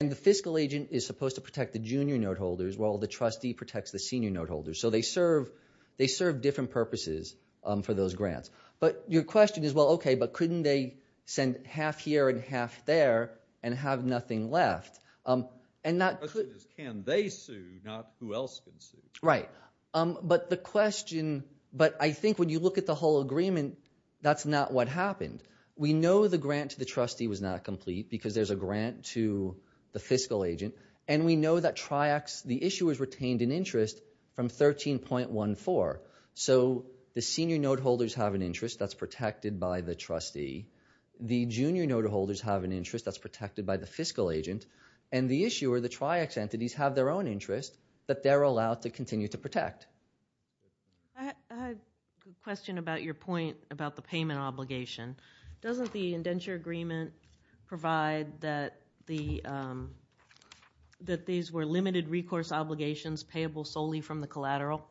And the fiscal agent is supposed to protect the junior note holders while the trustee protects the senior note holders. So they serve different purposes for those grants. But your question is, well, OK, but couldn't they send half here and half there and have nothing left? The question is, can they sue, not who else can sue? Right, but the question – but I think when you look at the whole agreement, that's not what happened. We know the grant to the trustee was not complete because there's a grant to the fiscal agent. And we know that Triaxx – the issuers retained an interest from 13.14. So the senior note holders have an interest that's protected by the trustee. The junior note holders have an interest that's protected by the fiscal agent. And the issuer, the Triaxx entities, have their own interest that they're allowed to continue to protect. I had a question about your point about the payment obligation. Doesn't the indenture agreement provide that these were limited recourse obligations payable solely from the collateral?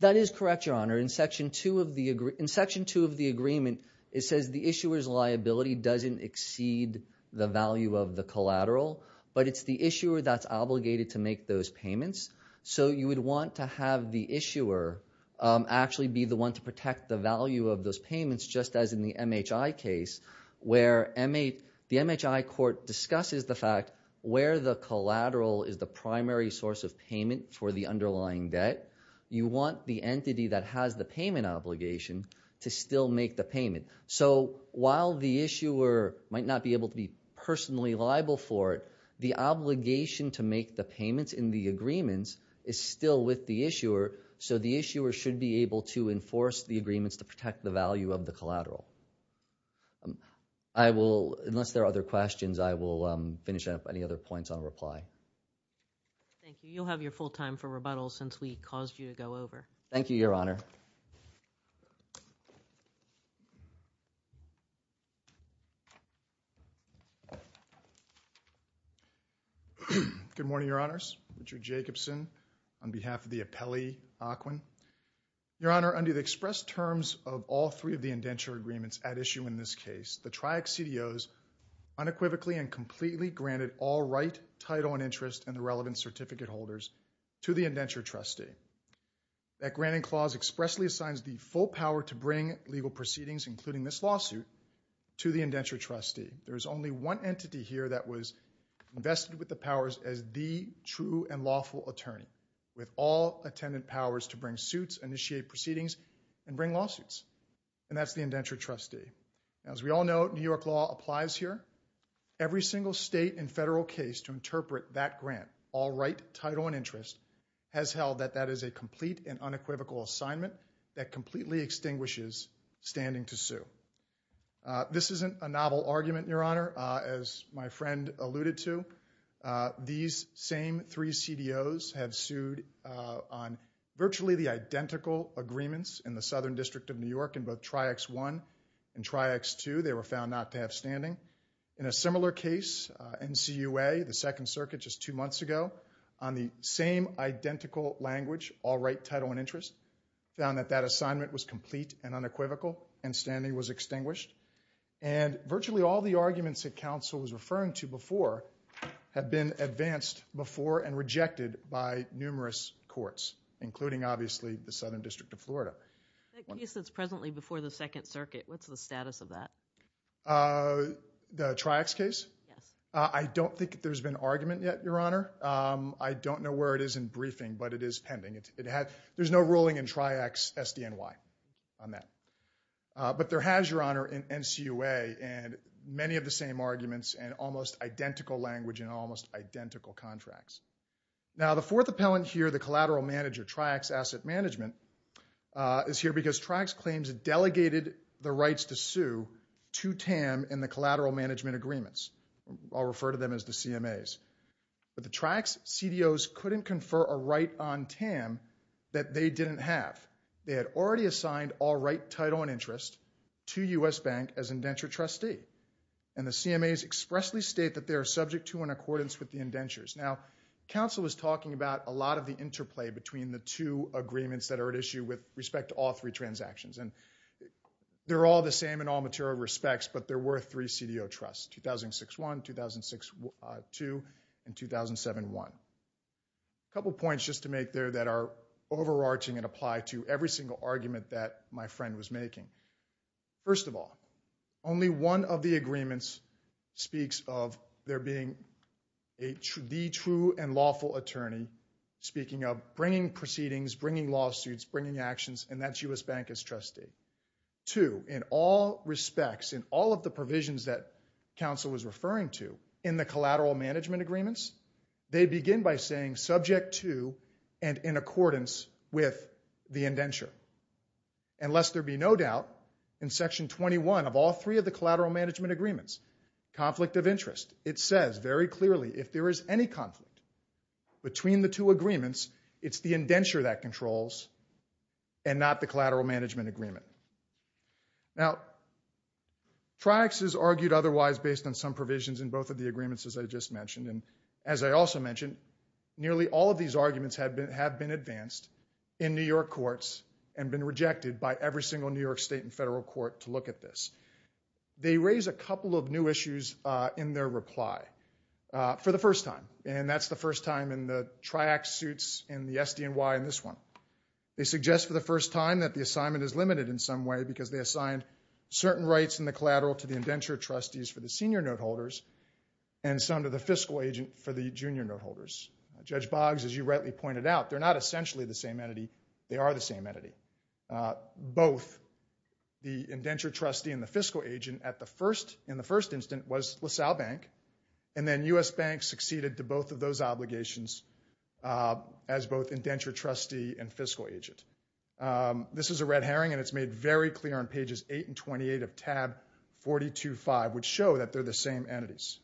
That is correct, Your Honor. In Section 2 of the agreement, it says the issuer's liability doesn't exceed the value of the collateral. But it's the issuer that's obligated to make those payments. So you would want to have the issuer actually be the one to protect the value of those payments, just as in the MHI case, where the MHI court discusses the fact where the collateral is the primary source of payment for the underlying debt. You want the entity that has the payment obligation to still make the payment. So while the issuer might not be able to be personally liable for it, the obligation to make the payments in the agreements is still with the issuer, so the issuer should be able to enforce the agreements to protect the value of the collateral. Unless there are other questions, I will finish up any other points on reply. Thank you. You'll have your full time for rebuttal since we caused you to go over. Thank you, Your Honor. Good morning, Your Honors. Richard Jacobson on behalf of the appellee, Aquin. Your Honor, under the express terms of all three of the indenture agreements at issue in this case, the TRIAC CDOs unequivocally and completely granted all right, title, and interest in the relevant certificate holders to the indenture trustee. That granting clause expressly assigns the full power to bring legal proceedings, including this lawsuit, to the indenture trustee. There is only one entity here that was vested with the powers as the true and lawful attorney, with all attendant powers to bring suits, initiate proceedings, and bring lawsuits, and that's the indenture trustee. As we all know, New York law applies here. Every single state and federal case to interpret that grant, all right, title, and interest, has held that that is a complete and unequivocal assignment that completely extinguishes standing to sue. This isn't a novel argument, Your Honor, as my friend alluded to. These same three CDOs have sued on virtually the identical agreements in the Southern District of New York in both TRIACS I and TRIACS II. They were found not to have standing. In a similar case, NCUA, the Second Circuit just two months ago, on the same identical language, all right, title, and interest, found that that assignment was complete and unequivocal and standing was extinguished. And virtually all the arguments that counsel was referring to before have been advanced before and rejected by numerous courts, including, obviously, the Southern District of Florida. The case that's presently before the Second Circuit, what's the status of that? The TRIACS case? Yes. I don't think there's been argument yet, Your Honor. I don't know where it is in briefing, but it is pending. There's no ruling in TRIACS SDNY on that. But there has, Your Honor, in NCUA, and many of the same arguments and almost identical language and almost identical contracts. Now, the fourth appellant here, the collateral manager, TRIACS Asset Management, is here because TRIACS claims it delegated the rights to sue to TAM in the collateral management agreements. I'll refer to them as the CMAs. But the TRIACS CDOs couldn't confer a right on TAM that they didn't have. They had already assigned all right, title, and interest to U.S. Bank as indenture trustee. And the CMAs expressly state that they are subject to and in accordance with the indentures. Now, counsel is talking about a lot of the interplay between the two agreements that are at issue with respect to all three transactions. And they're all the same in all material respects, but there were three CDO trusts, 2006-1, 2006-2, and 2007-1. A couple points just to make there that are overarching and apply to every single argument that my friend was making. First of all, only one of the agreements speaks of there being the true and lawful attorney speaking of bringing proceedings, bringing lawsuits, bringing actions, and that's U.S. Bank as trustee. Two, in all respects, in all of the provisions that counsel was referring to in the collateral management agreements, they begin by saying subject to and in accordance with the indenture. And lest there be no doubt, in Section 21 of all three of the collateral management agreements, conflict of interest, it says very clearly if there is any conflict between the two agreements, it's the indenture that controls and not the collateral management agreement. Now, TRIACS is argued otherwise based on some provisions in both of the agreements as I just mentioned. And as I also mentioned, nearly all of these arguments have been advanced in New York courts and been rejected by every single New York state and federal court to look at this. They raise a couple of new issues in their reply for the first time. And that's the first time in the TRIACS suits in the SDNY in this one. They suggest for the first time that the assignment is limited in some way because they assigned certain rights in the collateral to the indenture trustees for the senior note holders and some to the fiscal agent for the junior note holders. Judge Boggs, as you rightly pointed out, they're not essentially the same entity. They are the same entity. Both the indenture trustee and the fiscal agent in the first instance was LaSalle Bank. And then U.S. Bank succeeded to both of those obligations as both indenture trustee and fiscal agent. This is a red herring, and it's made very clear on pages 8 and 28 of tab 425, which show that they're the same entities.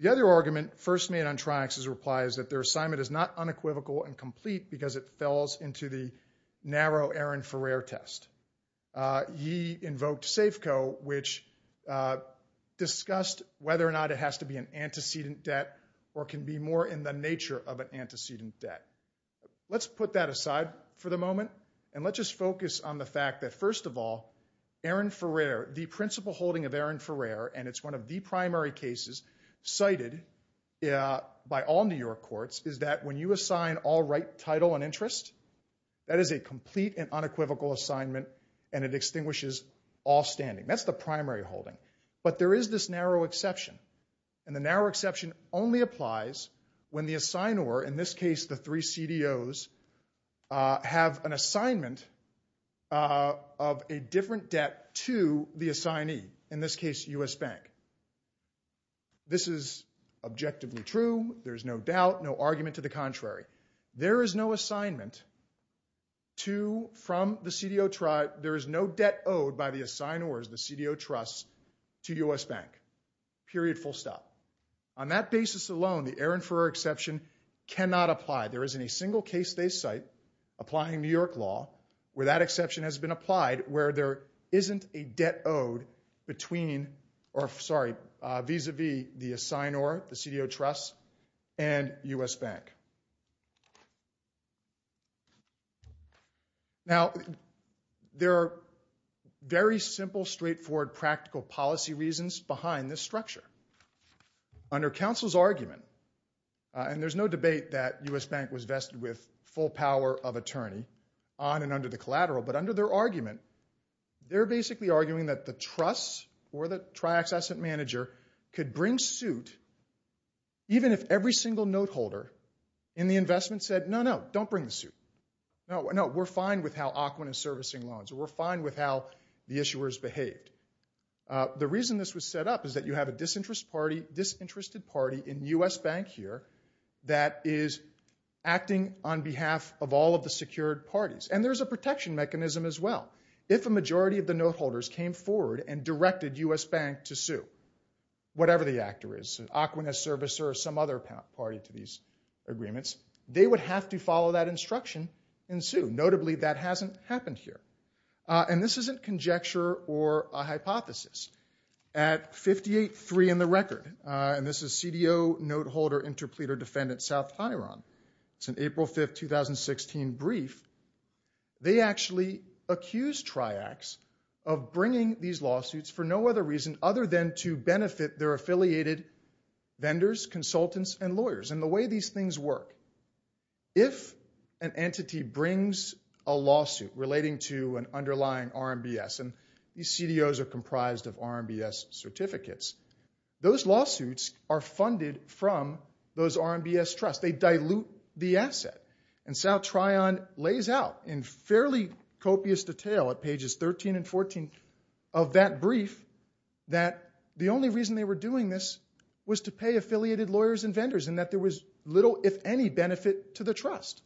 The other argument first made on TRIACS' reply is that their assignment is not unequivocal and complete because it falls into the narrow Aaron Ferrer test. He invoked SAFCO, which discussed whether or not it has to be an antecedent debt or can be more in the nature of an antecedent debt. Let's put that aside for the moment, and let's just focus on the fact that, first of all, Aaron Ferrer, the principal holding of Aaron Ferrer, and it's one of the primary cases cited by all New York courts, is that when you assign all right title and interest, that is a complete and unequivocal assignment, and it extinguishes all standing. That's the primary holding, but there is this narrow exception, and the narrow exception only applies when the assignor, in this case the three CDOs, have an assignment of a different debt to the assignee, in this case U.S. Bank. This is objectively true. There's no doubt, no argument to the contrary. There is no debt owed by the assignors, the CDO trusts, to U.S. Bank, period, full stop. On that basis alone, the Aaron Ferrer exception cannot apply. There isn't a single case they cite applying New York law where that exception has been applied where there isn't a debt owed between, or sorry, vis-a-vis the assignor, the CDO trusts, and U.S. Bank. Now, there are very simple, straightforward, practical policy reasons behind this structure. Under counsel's argument, and there's no debate that U.S. Bank was vested with full power of attorney, on and under the collateral, but under their argument, they're basically arguing that the trusts or the triaccessant manager could bring suit even if every single note holder in the investment said, no, no, don't bring the suit. No, we're fine with how AQUIN is servicing loans, or we're fine with how the issuers behaved. The reason this was set up is that you have a disinterested party in U.S. Bank here that is acting on behalf of all of the secured parties. And there's a protection mechanism as well. If a majority of the note holders came forward and directed U.S. Bank to sue, whatever the actor is, AQUIN as servicer or some other party to these agreements, they would have to follow that instruction and sue. Notably, that hasn't happened here. And this isn't conjecture or a hypothesis. At 58-3 in the record, and this is CDO Note Holder Interpleader Defendant, South Hiron. It's an April 5, 2016, brief. They actually accused triacs of bringing these lawsuits for no other reason other than to benefit their affiliated vendors, consultants, and lawyers. And the way these things work, if an entity brings a lawsuit relating to an underlying RMBS, and these CDOs are comprised of RMBS certificates, those lawsuits are funded from those RMBS trusts. They dilute the asset. And South Hiron lays out in fairly copious detail at pages 13 and 14 of that brief that the only reason they were doing this was to pay affiliated lawyers and vendors and that there was little, if any, benefit to the trust.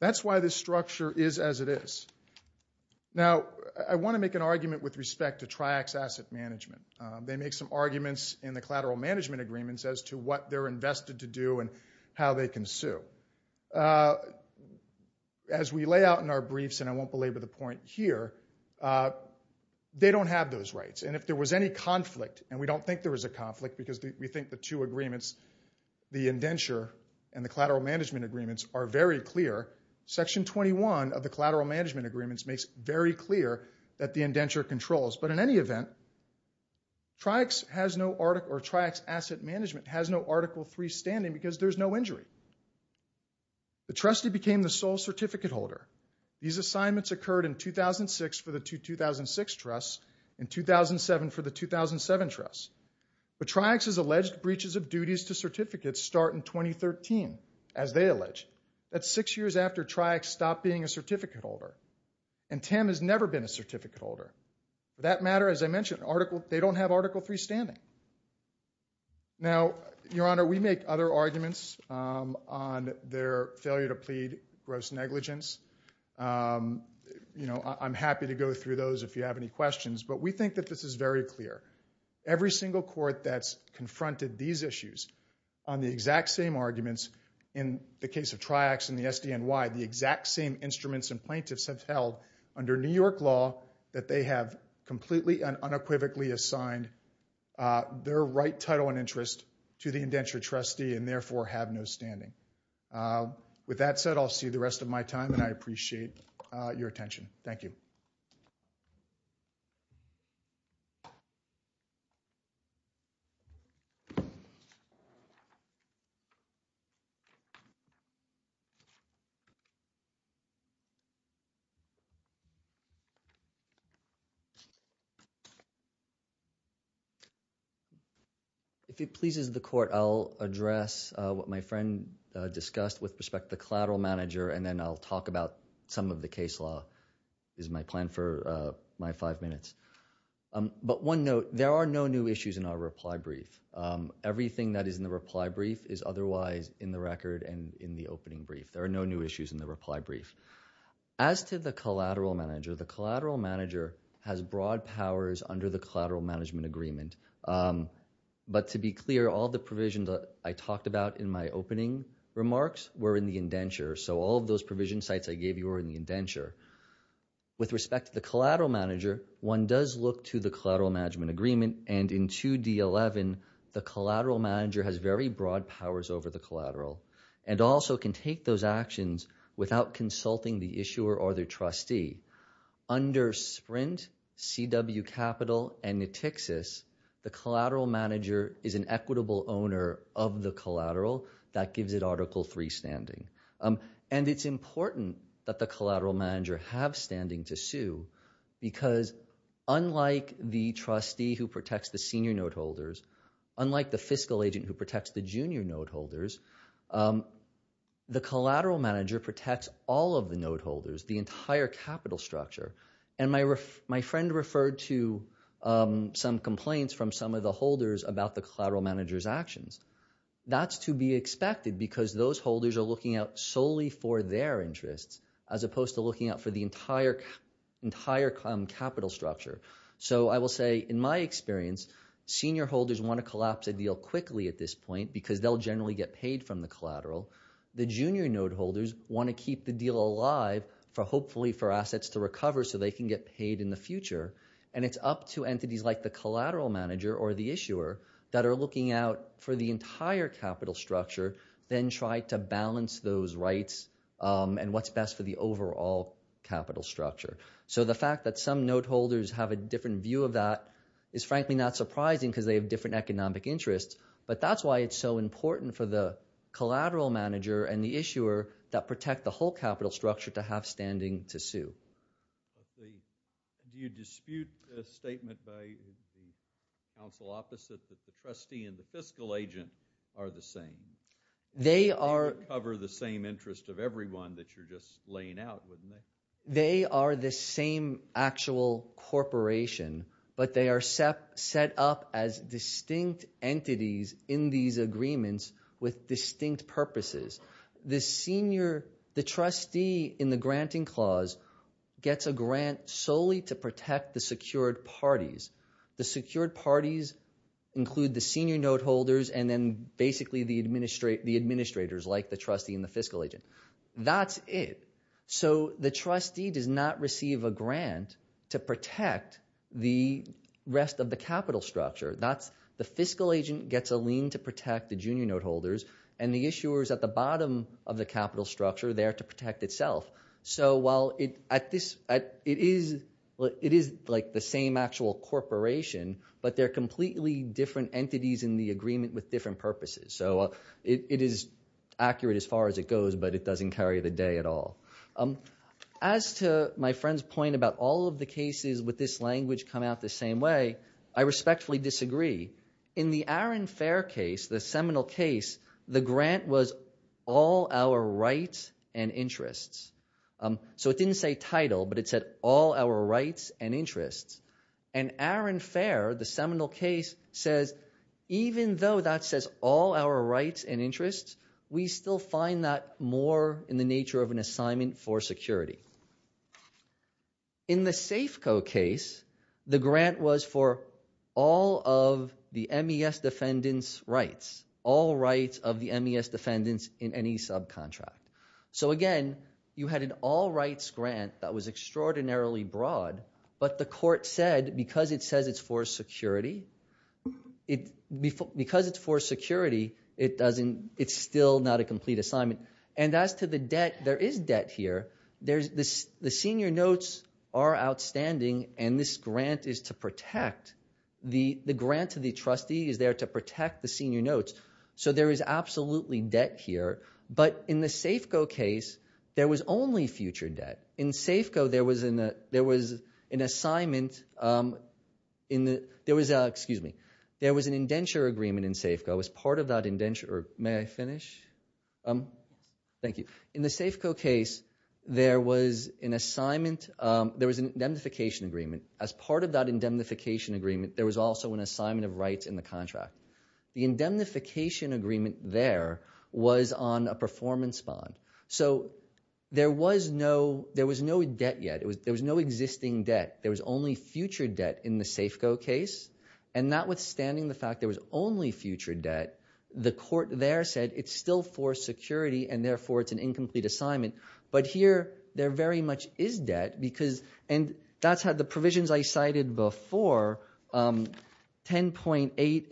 That's why this structure is as it is. Now, I want to make an argument with respect to triac's asset management. They make some arguments in the collateral management agreements as to what they're invested to do and how they can sue. As we lay out in our briefs, and I won't belabor the point here, they don't have those rights. And if there was any conflict, and we don't think there was a conflict because we think the two agreements, the indenture and the collateral management agreements, are very clear. Section 21 of the collateral management agreements makes it very clear that the indenture controls. But in any event, triac's asset management has no Article III standing because there's no injury. The trustee became the sole certificate holder. These assignments occurred in 2006 for the 2006 trusts and 2007 for the 2007 trusts. But triac's alleged breaches of duties to certificates start in 2013, as they allege. That's six years after triac stopped being a certificate holder, and Tim has never been a certificate holder. For that matter, as I mentioned, they don't have Article III standing. Now, Your Honor, we make other arguments on their failure to plead gross negligence. I'm happy to go through those if you have any questions, but we think that this is very clear. Every single court that's confronted these issues on the exact same arguments in the case of triac's and the SDNY, the exact same instruments and plaintiffs have held under New York law that they have completely and unequivocally assigned their right title and interest to the indenture trustee and therefore have no standing. With that said, I'll see the rest of my time, and I appreciate your attention. Thank you. Thank you. If it pleases the court, I'll address what my friend discussed with respect to the collateral manager, and then I'll talk about some of the case law. This is my plan for my five minutes. But one note, there are no new issues in our reply brief. Everything that is in the reply brief is otherwise in the record and in the opening brief. There are no new issues in the reply brief. As to the collateral manager, the collateral manager has broad powers under the collateral management agreement. But to be clear, all the provisions I talked about in my opening remarks were in the indenture, so all of those provision sites I gave you were in the indenture. With respect to the collateral manager, one does look to the collateral management agreement, and in 2D11, the collateral manager has very broad powers over the collateral and also can take those actions without consulting the issuer or the trustee. Under SPRINT, CW Capital, and Netixis, the collateral manager is an equitable owner of the collateral. That gives it Article III standing. And it's important that the collateral manager have standing to sue because unlike the trustee who protects the senior note holders, unlike the fiscal agent who protects the junior note holders, the collateral manager protects all of the note holders, the entire capital structure. And my friend referred to some complaints from some of the holders about the collateral manager's actions. That's to be expected because those holders are looking out solely for their interests as opposed to looking out for the entire capital structure. So I will say in my experience, senior holders want to collapse a deal quickly at this point because they'll generally get paid from the collateral. The junior note holders want to keep the deal alive, hopefully for assets to recover so they can get paid in the future. And it's up to entities like the collateral manager or the issuer that are looking out for the entire capital structure, then try to balance those rights and what's best for the overall capital structure. So the fact that some note holders have a different view of that is frankly not surprising because they have different economic interests. But that's why it's so important for the collateral manager and the issuer Do you dispute a statement by the counsel opposite that the trustee and the fiscal agent are the same? They are. They cover the same interest of everyone that you're just laying out, wouldn't they? They are the same actual corporation, but they are set up as distinct entities in these agreements with distinct purposes. The trustee in the granting clause gets a grant solely to protect the secured parties. The secured parties include the senior note holders and then basically the administrators like the trustee and the fiscal agent. That's it. So the trustee does not receive a grant to protect the rest of the capital structure. The fiscal agent gets a lien to protect the junior note holders, and the issuer is at the bottom of the capital structure there to protect itself. So while it is like the same actual corporation, but they're completely different entities in the agreement with different purposes. So it is accurate as far as it goes, but it doesn't carry the day at all. As to my friend's point about all of the cases with this language come out the same way, I respectfully disagree. In the Arron Fair case, the seminal case, the grant was all our rights and interests. So it didn't say title, but it said all our rights and interests. And Arron Fair, the seminal case, says even though that says all our rights and interests, we still find that more in the nature of an assignment for security. In the Safeco case, the grant was for all of the MES defendants' rights, all rights of the MES defendants in any subcontract. So again, you had an all rights grant that was extraordinarily broad, but the court said because it says it's for security, because it's for security, it's still not a complete assignment. And as to the debt, there is debt here. The senior notes are outstanding, and this grant is to protect. The grant to the trustee is there to protect the senior notes. So there is absolutely debt here. But in the Safeco case, there was only future debt. In Safeco, there was an indenture agreement in Safeco as part of that indenture. May I finish? Thank you. In the Safeco case, there was an assignment. There was an indemnification agreement. As part of that indemnification agreement, there was also an assignment of rights in the contract. The indemnification agreement there was on a performance bond. So there was no debt yet. There was no existing debt. There was only future debt in the Safeco case. And notwithstanding the fact there was only future debt, the court there said it's still for security and, therefore, it's an incomplete assignment. But here, there very much is debt. And that's how the provisions I cited before, 10.8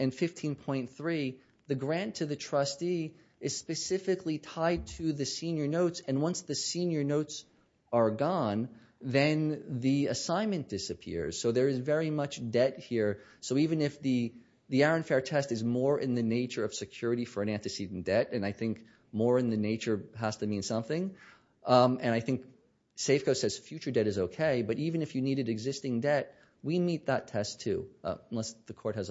and 15.3, the grant to the trustee is specifically tied to the senior notes. And once the senior notes are gone, then the assignment disappears. So there is very much debt here. So even if the Aaron Fair test is more in the nature of security for an antecedent debt, and I think more in the nature has to mean something, and I think Safeco says future debt is okay, but even if you needed existing debt, we meet that test too. Unless the court has other questions, I will.